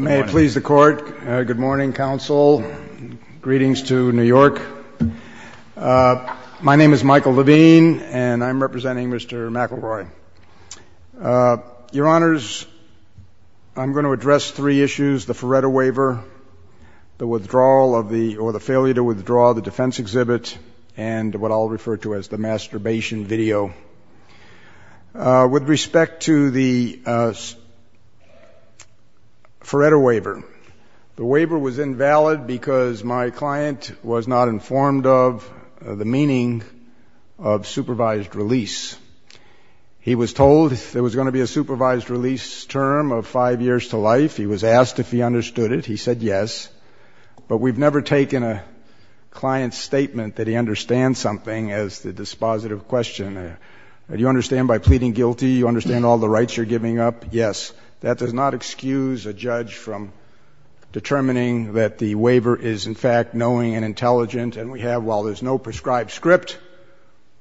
May it please the Court, good morning, Council, greetings to New York. My name is Michael Levine, and I'm representing Mr. McElroy. Your Honors, I'm going to address three issues, the Feretta Waiver, the withdrawal or the failure to withdraw the defense exhibit, and what I'll refer to as the masturbation video. With respect to the Feretta Waiver, the waiver was invalid because my client was not informed of the meaning of supervised release. He was told there was going to be a supervised release term of five years to life. He was asked if he understood it. He said yes, but we've never taken a client's statement that he understands something as a dispositive question. Do you understand by pleading guilty, you understand all the rights you're giving up? Yes. That does not excuse a judge from determining that the waiver is, in fact, knowing and intelligent, and we have, while there's no prescribed script,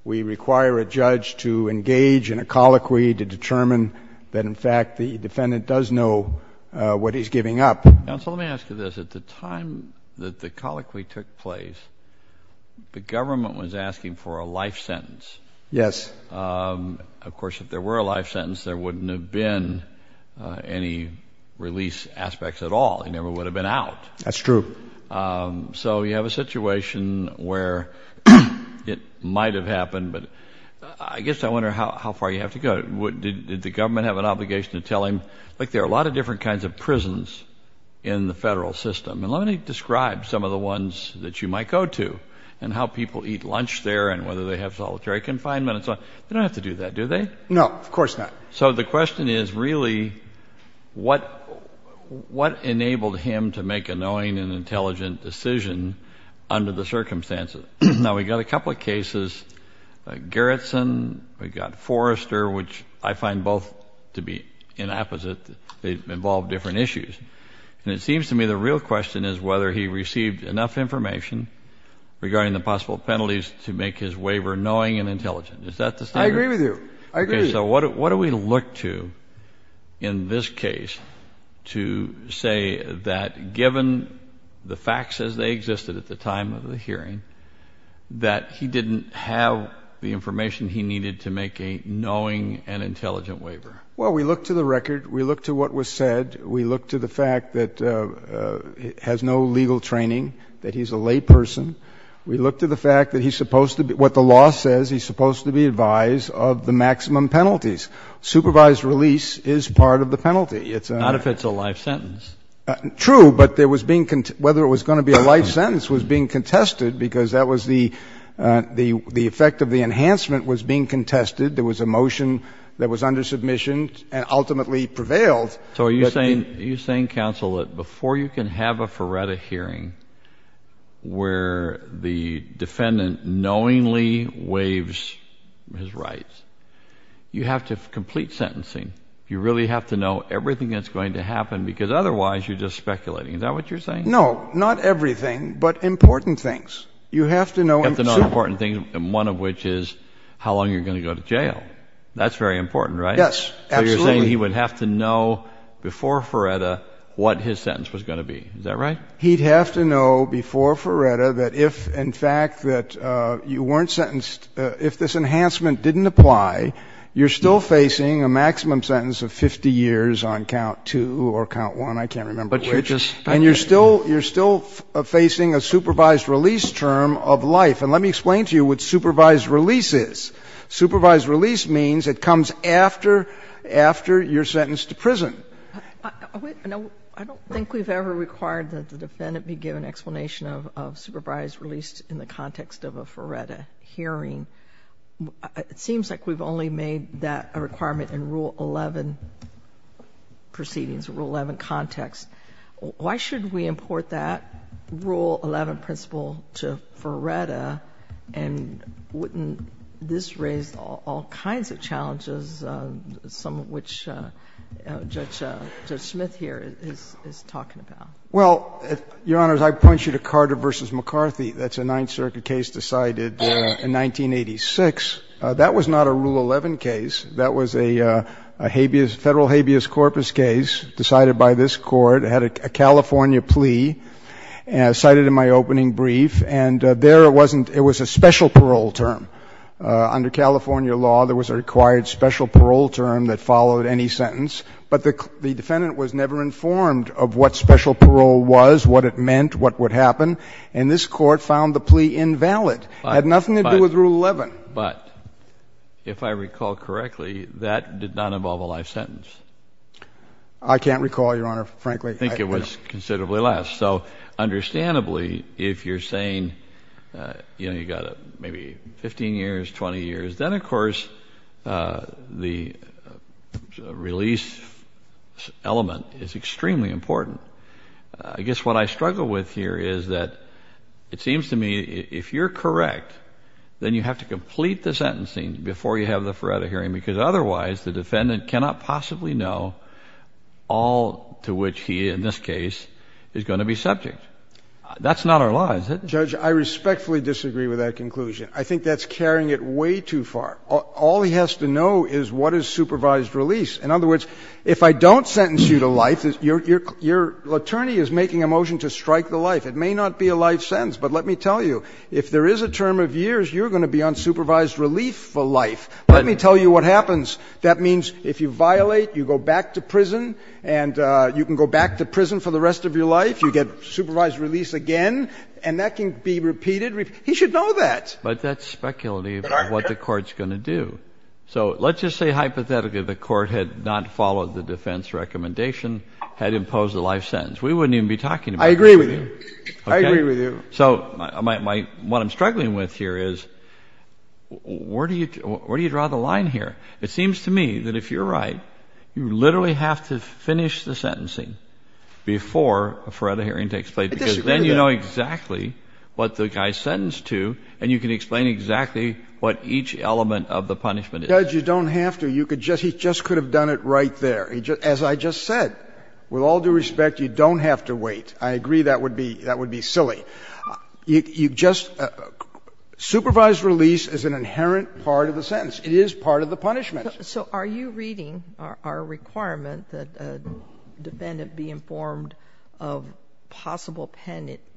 we require a judge to engage in a colloquy to determine that, in fact, the defendant does know what he's giving up. Counsel, let me ask you this. At the time that the colloquy took place, the government was asking for a life sentence. Yes. Of course, if there were a life sentence, there wouldn't have been any release aspects at all. He never would have been out. That's true. So you have a situation where it might have happened, but I guess I wonder how far you have to go. Did the government have an obligation to tell him, look, there are a lot of different kinds of prisons in the federal system, and let me describe some of the ones that you might go to and how people eat lunch there and whether they have solitary confinement and so on. They don't have to do that, do they? No. Of course not. So the question is really what enabled him to make a knowing and intelligent decision under the circumstances? Now, we've got a couple of cases, Garrison, we've got Forrester, which I find both to be inapposite. They involve different issues. And it seems to me the real question is whether he received enough information regarding the possible penalties to make his waiver knowing and intelligent. Is that the standard? I agree with you. I agree. So what do we look to in this case to say that given the facts as they existed at the time of the hearing, that he didn't have the information he needed to make a knowing and intelligent waiver? Well, we look to the record. We look to what was said. We look to the fact that he has no legal training, that he's a layperson. We look to the fact that he's supposed to be, what the law says, he's supposed to be advised of the maximum penalties. Supervised release is part of the penalty. It's a... Not if it's a life sentence. True. But there was being, whether it was going to be a life sentence was being contested because that was the effect of the enhancement was being contested. There was a motion that was under submission and ultimately prevailed. So are you saying, are you saying counsel that before you can have a Faretta hearing where the defendant knowingly waives his rights, you have to complete sentencing. You really have to know everything that's going to happen because otherwise you're just speculating. Is that what you're saying? No, not everything, but important things. You have to know... You have to know important things, one of which is how long you're going to go to jail. That's very important, right? Yes, absolutely. So you're saying he would have to know before Faretta what his sentence was going to be. Is that right? He'd have to know before Faretta that if, in fact, that you weren't sentenced, if this enhancement didn't apply, you're still facing a maximum sentence of 50 years on count two or count one, I can't remember which, and you're still facing a supervised release term of life. And let me explain to you what supervised release is. Supervised release means it comes after, after you're sentenced to prison. I don't think we've ever required that the defendant be given an explanation of supervised release in the context of a Faretta hearing. It seems like we've only made that a requirement in Rule 11 proceedings, Rule 11 context. Why should we import that Rule 11 principle to Faretta, and wouldn't this raise all kinds of challenges, some of which Judge Smith here is talking about? Well, Your Honors, I point you to Carter v. McCarthy. That's a Ninth Circuit case decided in 1986. That was not a Rule 11 case. That was a habeas, federal habeas corpus case decided by this Court. It had a California plea cited in my opening brief, and there it wasn't, it was a special parole term. Under California law, there was a required special parole term that followed any sentence, but the defendant was never informed of what special parole was, what it meant, what would happen, and this Court found the plea invalid. Had nothing to do with Rule 11. But, if I recall correctly, that did not involve a life sentence. I can't recall, Your Honor, frankly. I think it was considerably less. So, understandably, if you're saying, you know, you got maybe 15 years, 20 years, then of course the release element is extremely important. I guess what I struggle with here is that it seems to me if you're correct, then you have to complete the sentencing before you have the forever hearing, because otherwise the defendant cannot possibly know all to which he, in this case, is going to be subject. That's not our law, is it? Judge, I respectfully disagree with that conclusion. I think that's carrying it way too far. All he has to know is what is supervised release. In other words, if I don't sentence you to life, your attorney is making a motion to strike the life. It may not be a life sentence, but let me tell you, if there is a term of years, you're going to be on supervised relief for life. Let me tell you what happens. That means if you violate, you go back to prison, and you can go back to prison for the rest of your life. You get supervised release again, and that can be repeated. He should know that. But that's speculative of what the Court's going to do. So let's just say hypothetically the Court had not followed the defense recommendation, had imposed the life sentence. We wouldn't even be talking about that with you. I agree with you. I agree with you. So what I'm struggling with here is where do you draw the line here? It seems to me that if you're right, you literally have to finish the sentencing before a forever hearing takes place, because then you know exactly what the guy is sentenced to, and you can explain exactly what each element of the punishment is. Judge, you don't have to. You could just — he just could have done it right there. As I just said, with all due respect, you don't have to wait. I agree that would be silly. You just — supervised release is an inherent part of the sentence. It is part of the punishment. So are you reading our requirement that a defendant be informed of possible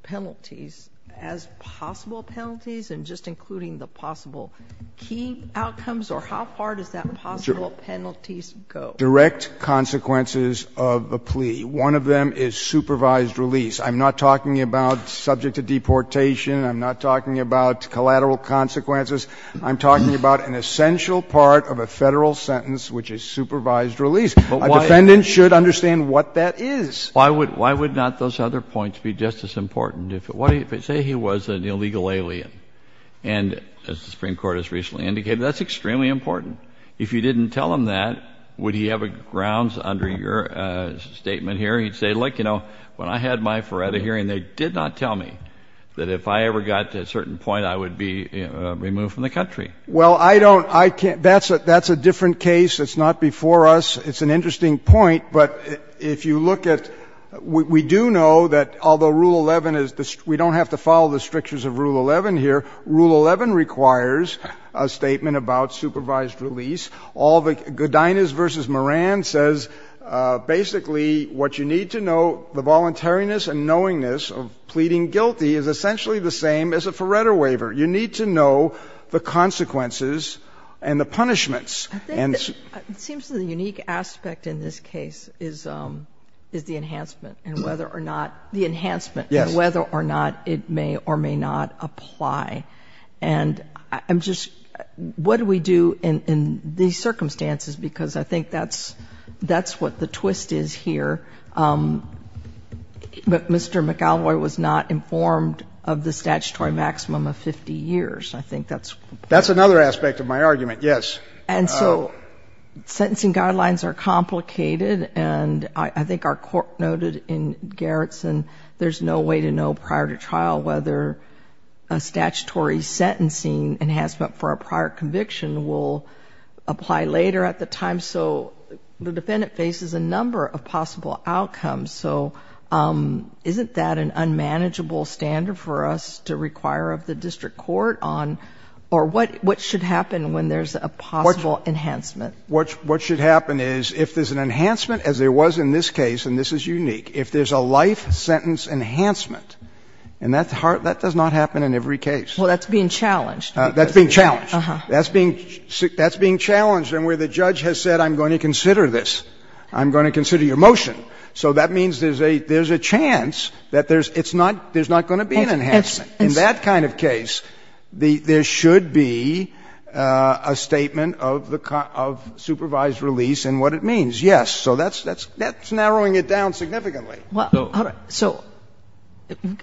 penalties as possible penalties, and just including the possible key outcomes? Or how far does that possible penalties go? Direct consequences of the plea. One of them is supervised release. I'm not talking about subject to deportation. I'm not talking about collateral consequences. I'm talking about an essential part of a Federal sentence, which is supervised release. A defendant should understand what that is. Why would — why would not those other points be just as important? If it — say he was an illegal alien, and as the Supreme Court has recently indicated, that's extremely important. If you didn't tell him that, would he have a grounds under your statement here? He'd say, look, you know, when I had my FREDA hearing, they did not tell me that if I ever got to a certain point, I would be removed from the country. Well, I don't — I can't — that's a different case. It's not before us. It's an interesting point. But if you look at — we do know that although Rule 11 is — we don't have to follow the strictures of Rule 11 here. Rule 11 requires a statement about supervised release. All the — Godinez v. Moran says basically what you need to know, the voluntariness and knowingness of pleading guilty, is essentially the same as a FREDA waiver. You need to know the consequences and the punishments. And — It seems to me the unique aspect in this case is — is the enhancement and whether or not — the enhancement — Yes. — whether or not it may or may not apply. And I'm just — what do we do in these circumstances? Because I think that's — that's what the twist is here. But Mr. McElroy was not informed of the statutory maximum of 50 years. I think that's — That's another aspect of my argument, yes. And so sentencing guidelines are complicated. And I think our court noted in Gerritsen there's no way to know prior to trial whether a statutory sentencing enhancement for a prior conviction will apply later at the time. So the defendant faces a number of possible outcomes. So isn't that an unmanageable standard for us to require of the district court on — or what — what should happen when there's a possible enhancement? What — what should happen is if there's an enhancement, as there was in this case — and this is unique — if there's a life sentence enhancement — and that's hard — that does not happen in every case. Well, that's being challenged. That's being challenged. Uh-huh. That's being — that's being challenged. And where the judge has said, I'm going to consider this, I'm going to consider your motion. So that means there's a — there's a chance that there's — it's not — there's not going to be an enhancement. In that kind of case, the — there should be a statement of the — of supervised release and what it means. Yes. So that's — that's narrowing it down significantly. Well, all right. So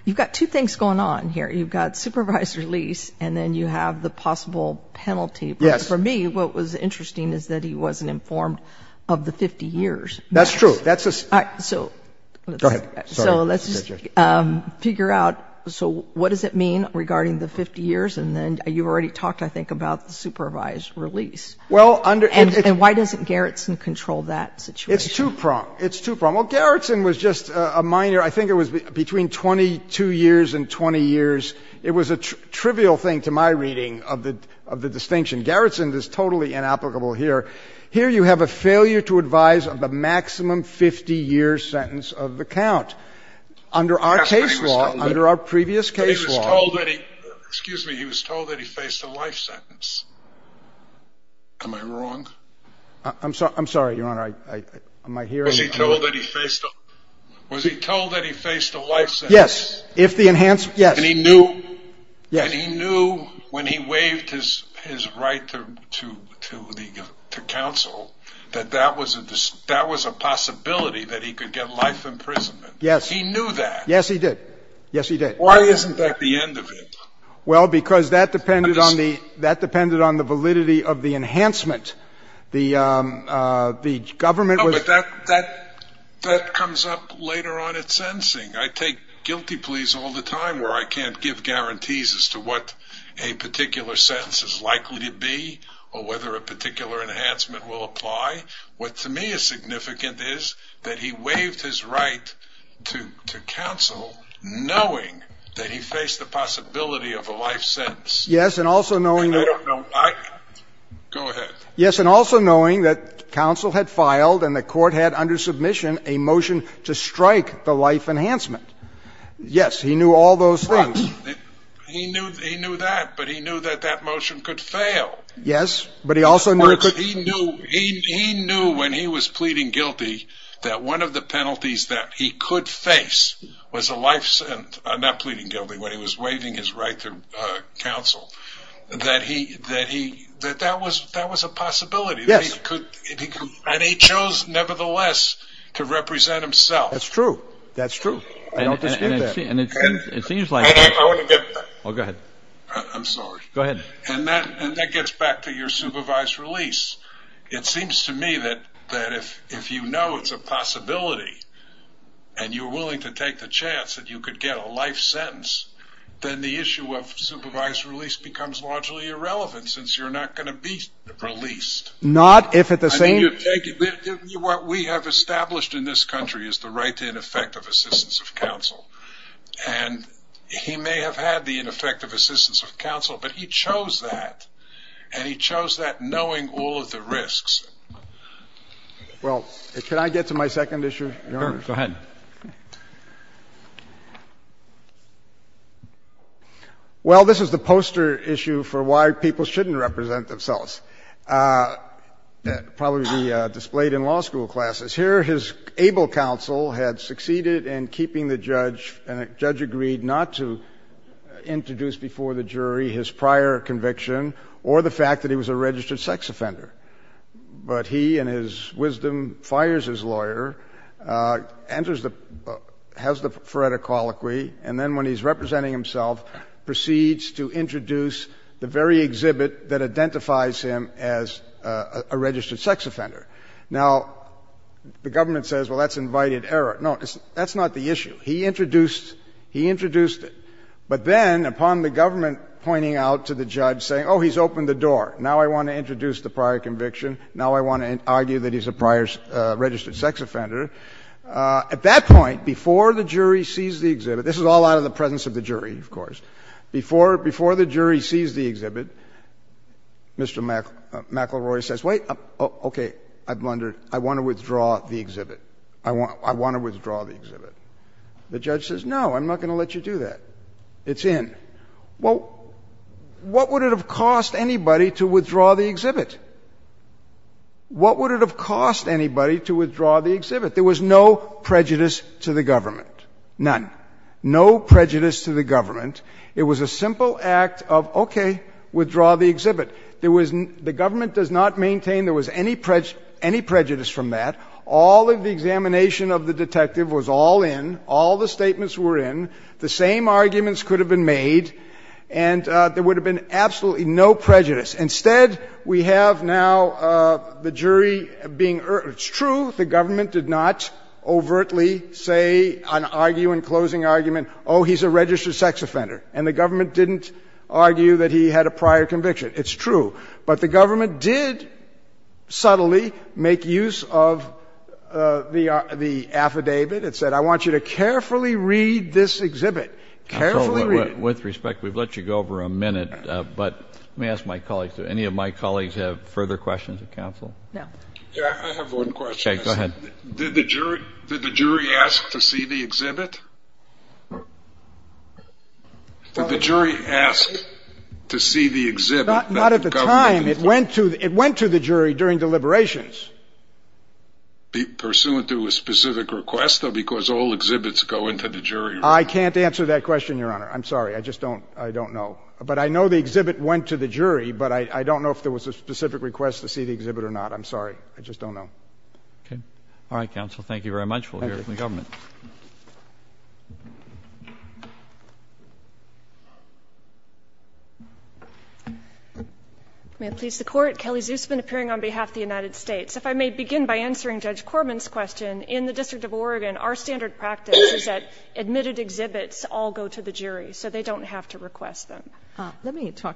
you've got two things going on here. You've got supervised release, and then you have the possible penalty. Yes. For me, what was interesting is that he wasn't informed of the 50 years. That's true. That's a — All right. So — Go ahead. So let's just figure out — so what does it mean regarding the 50 years? And then you already talked, I think, about the supervised release. Well, under — And why doesn't Gerritsen control that situation? It's two-pronged. It's two-pronged. Well, Gerritsen was just a minor — I think it was between 22 years and 20 years. It was a trivial thing, to my reading, of the — of the distinction. Gerritsen is totally inapplicable here. Here, you have a failure to advise of the maximum 50-year sentence of the count. Under our case law — Under our previous case law — But he was told that he — excuse me. He was told that he faced a life sentence. Am I wrong? I'm sorry. I'm sorry, Your Honor. I — am I hearing — Was he told that he faced a — was he told that he faced a life sentence? Yes. If the enhanced — yes. And he knew — Yes. that that was a — that was a possibility that he could get life imprisonment. Yes. He knew that. Yes, he did. Yes, he did. Why isn't that the end of it? Well, because that depended on the — that depended on the validity of the enhancement. The — the government was — No, but that — that — that comes up later on at sentencing. I take guilty pleas all the time where I can't give guarantees as to what a particular sentence is likely to be or whether a particular enhancement will apply. What to me is significant is that he waived his right to — to counsel knowing that he faced the possibility of a life sentence. Yes. And also knowing — And I don't know — Go ahead. Yes. And also knowing that counsel had filed and the court had under submission a motion to strike the life enhancement. Yes. He knew all those things. He knew — he knew that, but he knew that that motion could fail. Yes, but he also knew — He knew — he — he knew when he was pleading guilty that one of the penalties that he could face was a life — not pleading guilty, when he was waiving his right to counsel, that he — that he — that that was — that was a possibility. Yes. That he could — and he chose, nevertheless, to represent himself. That's true. That's true. I don't dispute that. And it seems — it seems like — And I want to get — Oh, go ahead. I'm sorry. Go ahead. And that — and that gets back to your supervised release. It seems to me that — that if — if you know it's a possibility and you're willing to take the chance that you could get a life sentence, then the issue of supervised release becomes largely irrelevant, since you're not going to be released. Not if at the same — I mean, you're taking — what we have established in this country is the right to ineffective assistance of counsel. And he may have had the ineffective assistance of counsel, but he chose that. And he chose that knowing all of the risks. Well, can I get to my second issue, Your Honor? Sure. Go ahead. Well, this is the poster issue for why people shouldn't represent themselves. Probably be displayed in law school classes. Here, his able counsel had succeeded in keeping the judge, and the judge agreed not to introduce before the jury his prior conviction or the fact that he was a registered sex offender. But he, in his wisdom, fires his lawyer, enters the — has the phoretic colloquy, and then when he's representing himself, proceeds to introduce the very exhibit that identifies him as a registered sex offender. Now, the government says, well, that's invited error. No, that's not the issue. He introduced — he introduced it. But then, upon the government pointing out to the judge, saying, oh, he's opened the door, now I want to introduce the prior conviction, now I want to argue that he's a prior registered sex offender, at that point, before the jury sees the exhibit — this is all out of the presence of the jury, of course — before — before the jury sees the exhibit, Mr. McElroy says, okay, I've wondered — I want to withdraw the exhibit. I want — I want to withdraw the exhibit. The judge says, no, I'm not going to let you do that. It's in. Well, what would it have cost anybody to withdraw the exhibit? What would it have cost anybody to withdraw the exhibit? There was no prejudice to the government. None. No prejudice to the government. It was a simple act of, okay, withdraw the exhibit. There was — the government does not maintain there was any prejudice from that. All of the examination of the detective was all in. All the statements were in. The same arguments could have been made, and there would have been absolutely no prejudice. Instead, we have now the jury being — it's true the government did not overtly say — argue in closing argument, oh, he's a registered sex offender. And the government didn't argue that he had a prior conviction. It's true. But the government did subtly make use of the affidavit. It said, I want you to carefully read this exhibit. Carefully read it. With respect, we've let you go over a minute, but let me ask my colleagues — do any of my colleagues have further questions of counsel? No. Yeah, I have one question. Okay, go ahead. Did the jury — did the jury ask to see the exhibit? Did the jury ask to see the exhibit? Not at the time. It went to — it went to the jury during deliberations. Pursuant to a specific request, or because all exhibits go into the jury? I can't answer that question, Your Honor. I'm sorry. I just don't — I don't know. But I know the exhibit went to the jury, but I don't know if there was a specific request to see the exhibit or not. I'm sorry. I just don't know. Okay. All right, counsel. Thank you very much. We'll hear from the government. May it please the Court. Kelly Zusman, appearing on behalf of the United States. If I may begin by answering Judge Corman's question. In the District of Oregon, our standard practice is that admitted exhibits all go to the jury, so they don't have to request them. Let me talk,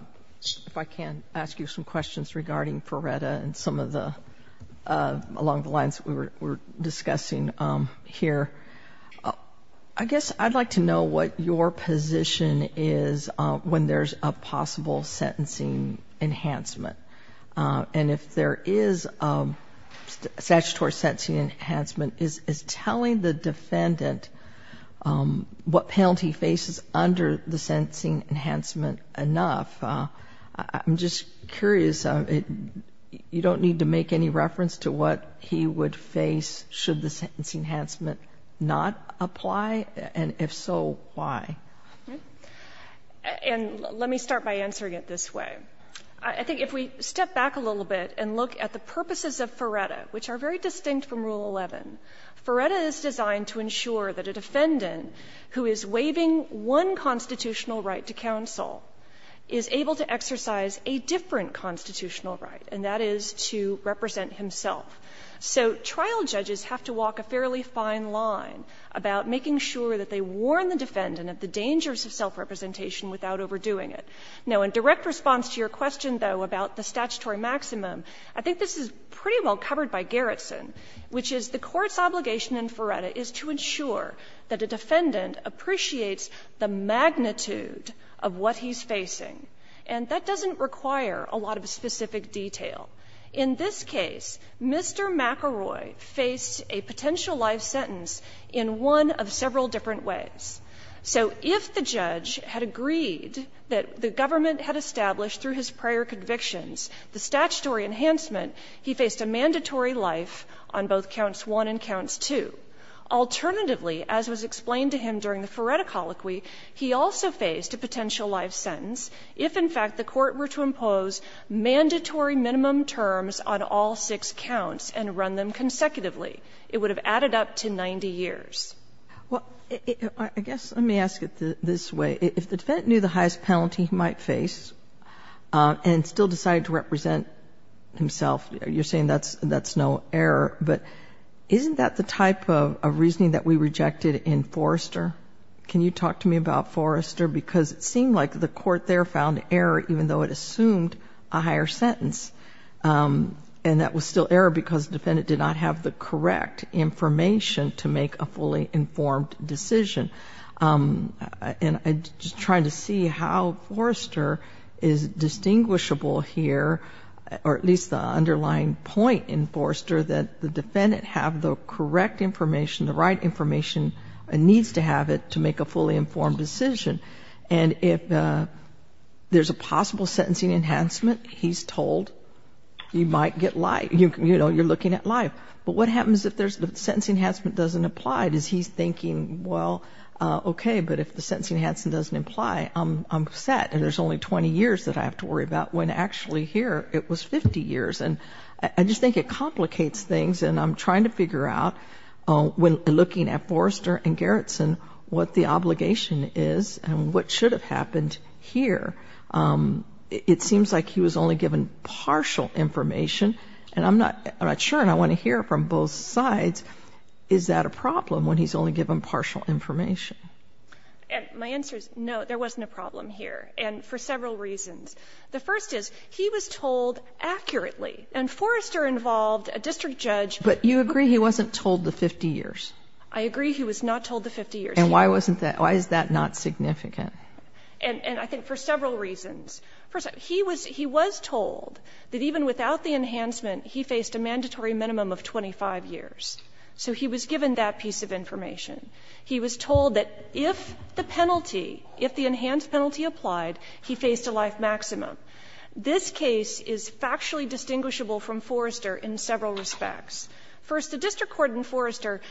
if I can, ask you some questions regarding FRERETA and some of the — along the lines we were discussing here. I guess I'd like to know what your position is when there's a possible sentencing enhancement. And if there is a statutory sentencing enhancement, is telling the defendant what penalty he faces under the sentencing enhancement enough? I'm just curious. You don't need to make any reference to what he would face should the sentencing enhancement not apply? And if so, why? And let me start by answering it this way. I think if we step back a little bit and look at the purposes of FRERETA, which are very distinct from Rule 11, FRERETA is designed to ensure that a defendant who is waiving one constitutional right to counsel is able to exercise a different constitutional right, and that is to represent himself. So trial judges have to walk a fairly fine line about making sure that they warn the defendant of the dangers of self-representation without overdoing it. Now, in direct response to your question, though, about the statutory maximum, I think this is pretty well covered by Gerritsen, which is the Court's obligation in FRERETA is to ensure that a defendant appreciates the magnitude of what he's facing. And that doesn't require a lot of specific detail. In this case, Mr. McElroy faced a potential life sentence in one of several different ways. So if the judge had agreed that the government had established through his prior convictions the statutory enhancement, he faced a mandatory life on both counts one and counts two. Alternatively, as was explained to him during the FRERETA colloquy, he also faced a potential life sentence if, in fact, the Court were to impose mandatory minimum terms on all six counts and run them consecutively. It would have added up to 90 years. JUSTICE KAGAN Well, I guess let me ask it this way. If the defendant knew the highest penalty he might face and still decided to represent himself, you're saying that's no error, but isn't that the type of reasoning that we rejected in Forrester? Can you talk to me about Forrester? Because it seemed like the Court there found error even though it assumed a higher sentence. And that was still error because the defendant did not have the correct information to make a fully informed decision. And I'm just trying to see how Forrester is distinguishable here, or at least the underlying point in Forrester that the defendant have the correct information, the right information and needs to have it to make a fully informed decision. And if there's a possible sentencing enhancement, he's told you might get life, you know, you're looking at life. But what happens if the sentencing enhancement doesn't apply? Does he thinking, well, okay, but if the sentencing enhancement doesn't apply, I'm upset and there's only 20 years that I have to worry about when actually here it was 50 years. And I just think it complicates things. And I'm trying to figure out when looking at Forrester and Gerritsen what the obligation is and what should have happened here. It seems like he was only given partial information and I'm not sure and I want to hear from both sides. Is that a problem when he's only given partial information? And my answer is no, there wasn't a problem here and for several reasons. The first is he was told accurately and Forrester involved a district judge. But you agree he wasn't told the 50 years. I agree he was not told the 50 years. And why wasn't that? Why is that not significant? And I think for several reasons. He was told that even without the enhancement, he faced a mandatory minimum of 25 years. So he was given that piece of information. He was told that if the penalty, if the enhanced penalty applied, he faced a life maximum. This case is factually distinguishable from Forrester in several respects. First, the district court in Forrester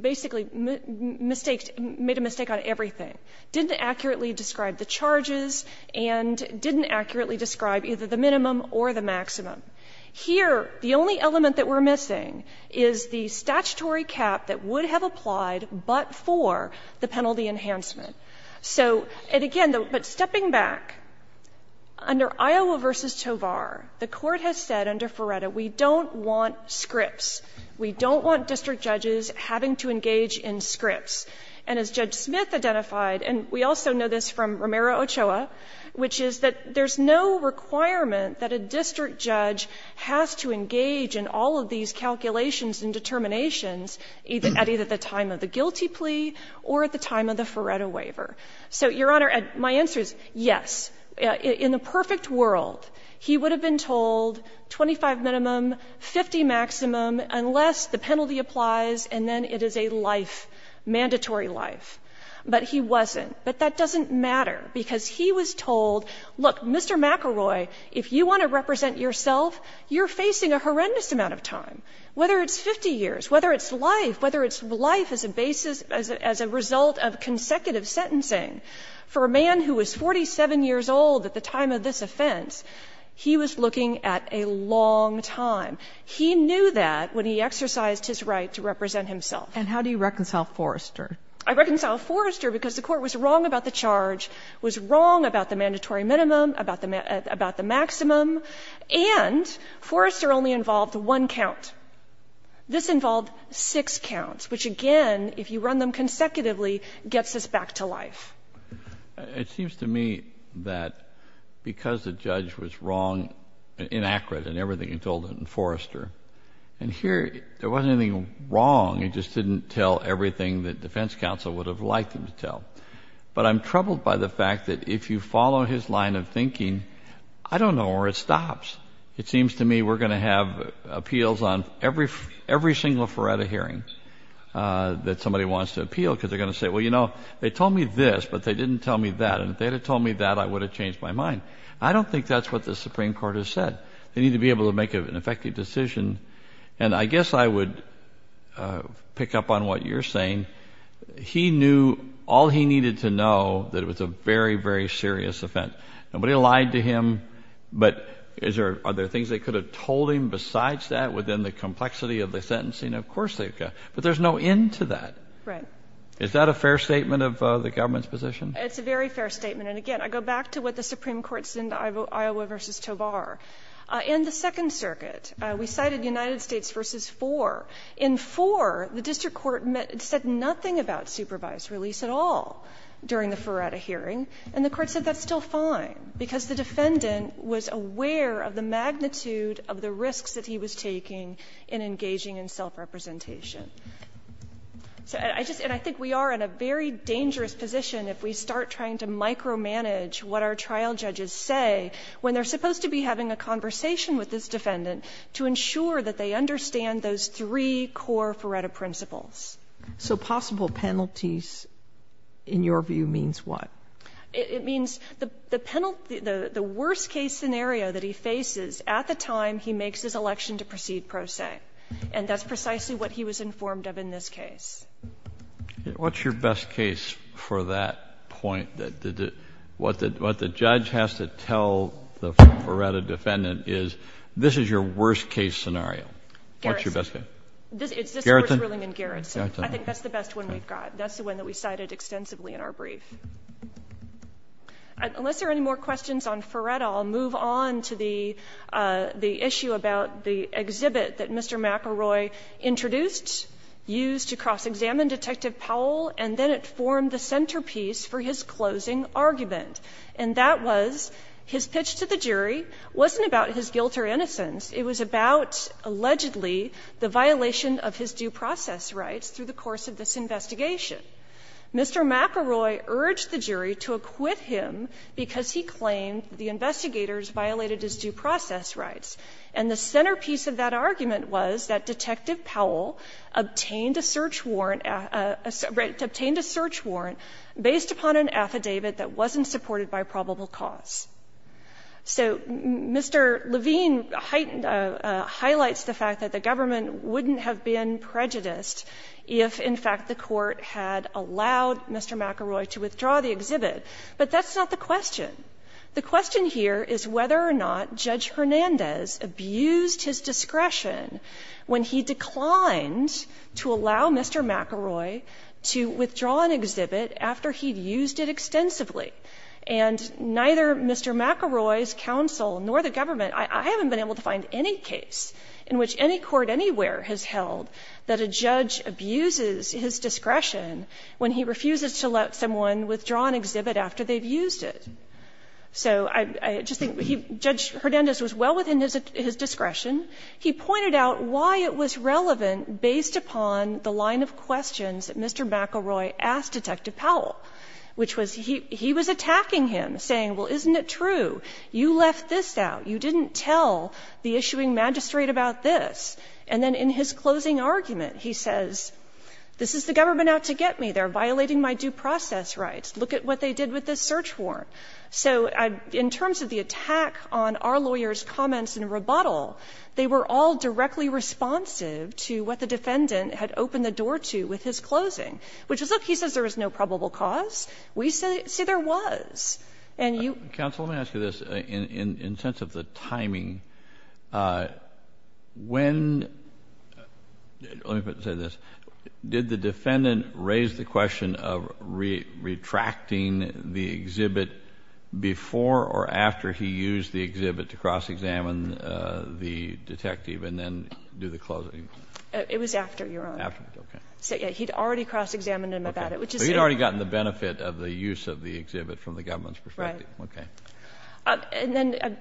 basically made a mistake on everything. Didn't accurately describe the charges and didn't accurately describe either the minimum or the maximum. Here, the only element that we're missing is the statutory cap that would have applied but for the penalty enhancement. So, and again, but stepping back, under Iowa versus Tovar, the court has said under Ferretta, we don't want scripts. We don't want district judges having to engage in scripts. And as Judge Smith identified, and we also know this from Romero-Ochoa, which is that there's no requirement that a district judge has to engage in all of these calculations and determinations at either the time of the guilty plea or at the time of the Ferretta waiver. So, Your Honor, my answer is yes. In the perfect world, he would have been told 25 minimum, 50 maximum unless the penalty applies and then it is a life, mandatory life. But he wasn't. But that doesn't matter because he was told, look, Mr. McElroy, if you want to represent yourself, you're facing a horrendous amount of time, whether it's 50 years, whether it's life, whether it's life as a basis, as a result of consecutive sentencing. For a man who was 47 years old at the time of this offense, he was looking at a long time. He knew that when he exercised his right to represent himself. And how do you reconcile Forrester? I reconcile Forrester because the Court was wrong about the charge, was wrong about the mandatory minimum, about the maximum, and Forrester only involved one count. This involved six counts, which again, if you run them consecutively, gets us back to life. It seems to me that because the judge was wrong, inaccurate in everything he told in Forrester, and here there wasn't anything wrong, it just didn't tell everything that defense counsel would have liked him to tell. But I'm troubled by the fact that if you follow his line of thinking, I don't know where it stops. It seems to me we're going to have appeals on every single Feretta hearing that somebody wants to appeal because they're going to say, well, you know, they told me this, but they didn't tell me that. And if they had told me that, I would have changed my mind. I don't think that's what the Supreme Court has said. They need to be able to make an effective decision. And I guess I would pick up on what you're saying. He knew all he needed to know that it was a very, very serious offense. Nobody lied to him. But are there things they could have told him besides that within the complexity of the sentencing? Of course they've got. But there's no end to that. Right. Is that a fair statement of the government's position? It's a very fair statement. And again, I go back to what the Supreme Court said in Iowa v. Tovar. In the Second Circuit, we cited United States v. Fore. In Fore, the district court said nothing about supervised release at all during the Feretta hearing. And the court said that's still fine because the defendant was aware of the magnitude of the risks that he was taking in engaging in self-representation. And I think we are in a very dangerous position if we start trying to micromanage what our trial judges say when they're supposed to be having a conversation with this defendant to ensure that they understand those three core Feretta principles. So possible penalties, in your view, means what? It means the penalty, the worst case scenario that he faces at the time he makes his election to proceed pro se. And that's precisely what he was informed of in this case. What's your best case for that point? What the judge has to tell the Feretta defendant is this is your worst case scenario. What's your best case? It's this one in Garrison. I think that's the best one we've got. That's the one that we cited extensively in our brief. Unless there are any more questions on Feretta, I'll move on to the issue about the exhibit that Mr. McElroy introduced, used to cross-examine Detective Powell, and then it formed the centerpiece for his closing argument. And that was his pitch to the jury wasn't about his guilt or innocence. It was about, allegedly, the violation of his due process rights through the course of this investigation. Mr. McElroy urged the jury to acquit him because he claimed the investigators violated his due process rights. And the centerpiece of that argument was that Detective Powell obtained a search warrant based upon an affidavit that wasn't supported by probable cause. So Mr. Levine highlights the fact that the government wouldn't have been prejudiced if, in fact, the court had allowed Mr. McElroy to withdraw the exhibit. But that's not the question. The question here is whether or not Judge Hernandez abused his discretion when he declined to allow Mr. McElroy to withdraw an exhibit after he'd used it extensively. And neither Mr. McElroy's counsel nor the government, I haven't been able to find any case in which any court anywhere has held that a judge abuses his discretion when he refuses to let someone withdraw an exhibit after they've used it. So I just think Judge Hernandez was well within his discretion. He pointed out why it was relevant based upon the line of questions that Mr. McElroy asked Detective Powell, which was he was attacking him, saying, well, isn't it true? You left this out. You didn't tell the issuing magistrate about this. And then in his closing argument, he says, this is the government out to get me. They're violating my due process rights. Look at what they did with this search warrant. So in terms of the attack on our lawyer's comments and rebuttal, they were all directly responsive to what the defendant had opened the door to with his closing, which is, look, he says there is no probable cause. We say there was. And you. Counsel, let me ask you this in sense of the timing. When, let me say this. Did the defendant raise the question of retracting the exhibit before or after he used the exhibit to cross-examine the detective and then do the closing? It was after, Your Honor. After, okay. So yeah, he'd already cross-examined him about it, which is. He'd already gotten the benefit of the use of the exhibit from the government's perspective. Right. Okay. And then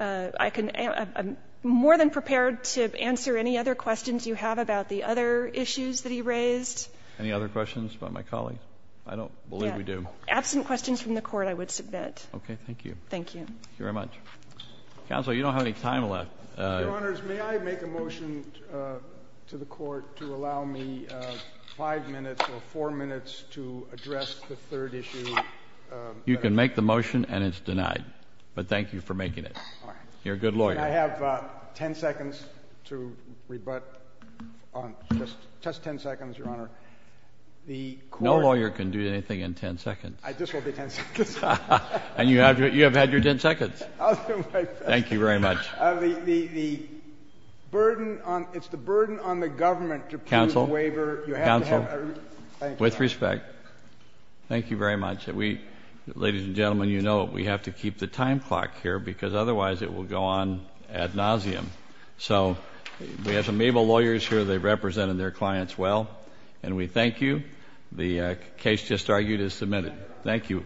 I can, I'm more than prepared to answer any other questions you have about the other issues that he raised. Any other questions about my colleague? I don't believe we do. Absent questions from the court, I would submit. Okay. Thank you. Thank you. Thank you very much. Counsel, you don't have any time left. Your Honors, may I make a motion to the court to allow me five minutes or four minutes to address the third issue? You can make the motion and it's denied, but thank you for making it. All right. You're a good lawyer. I have 10 seconds to rebut on just, just 10 seconds, Your Honor. The court. No lawyer can do anything in 10 seconds. I, this will be 10 seconds. And you have, you have had your 10 seconds. Thank you very much. The, the burden on, it's the burden on the government to prove the waiver. Counsel, counsel, with respect. Thank you very much. We, ladies and gentlemen, you know, we have to keep the time clock here because otherwise it will go on ad nauseum. So, we have some able lawyers here. They represented their clients well. And we thank you. The case just argued is submitted. Thank you.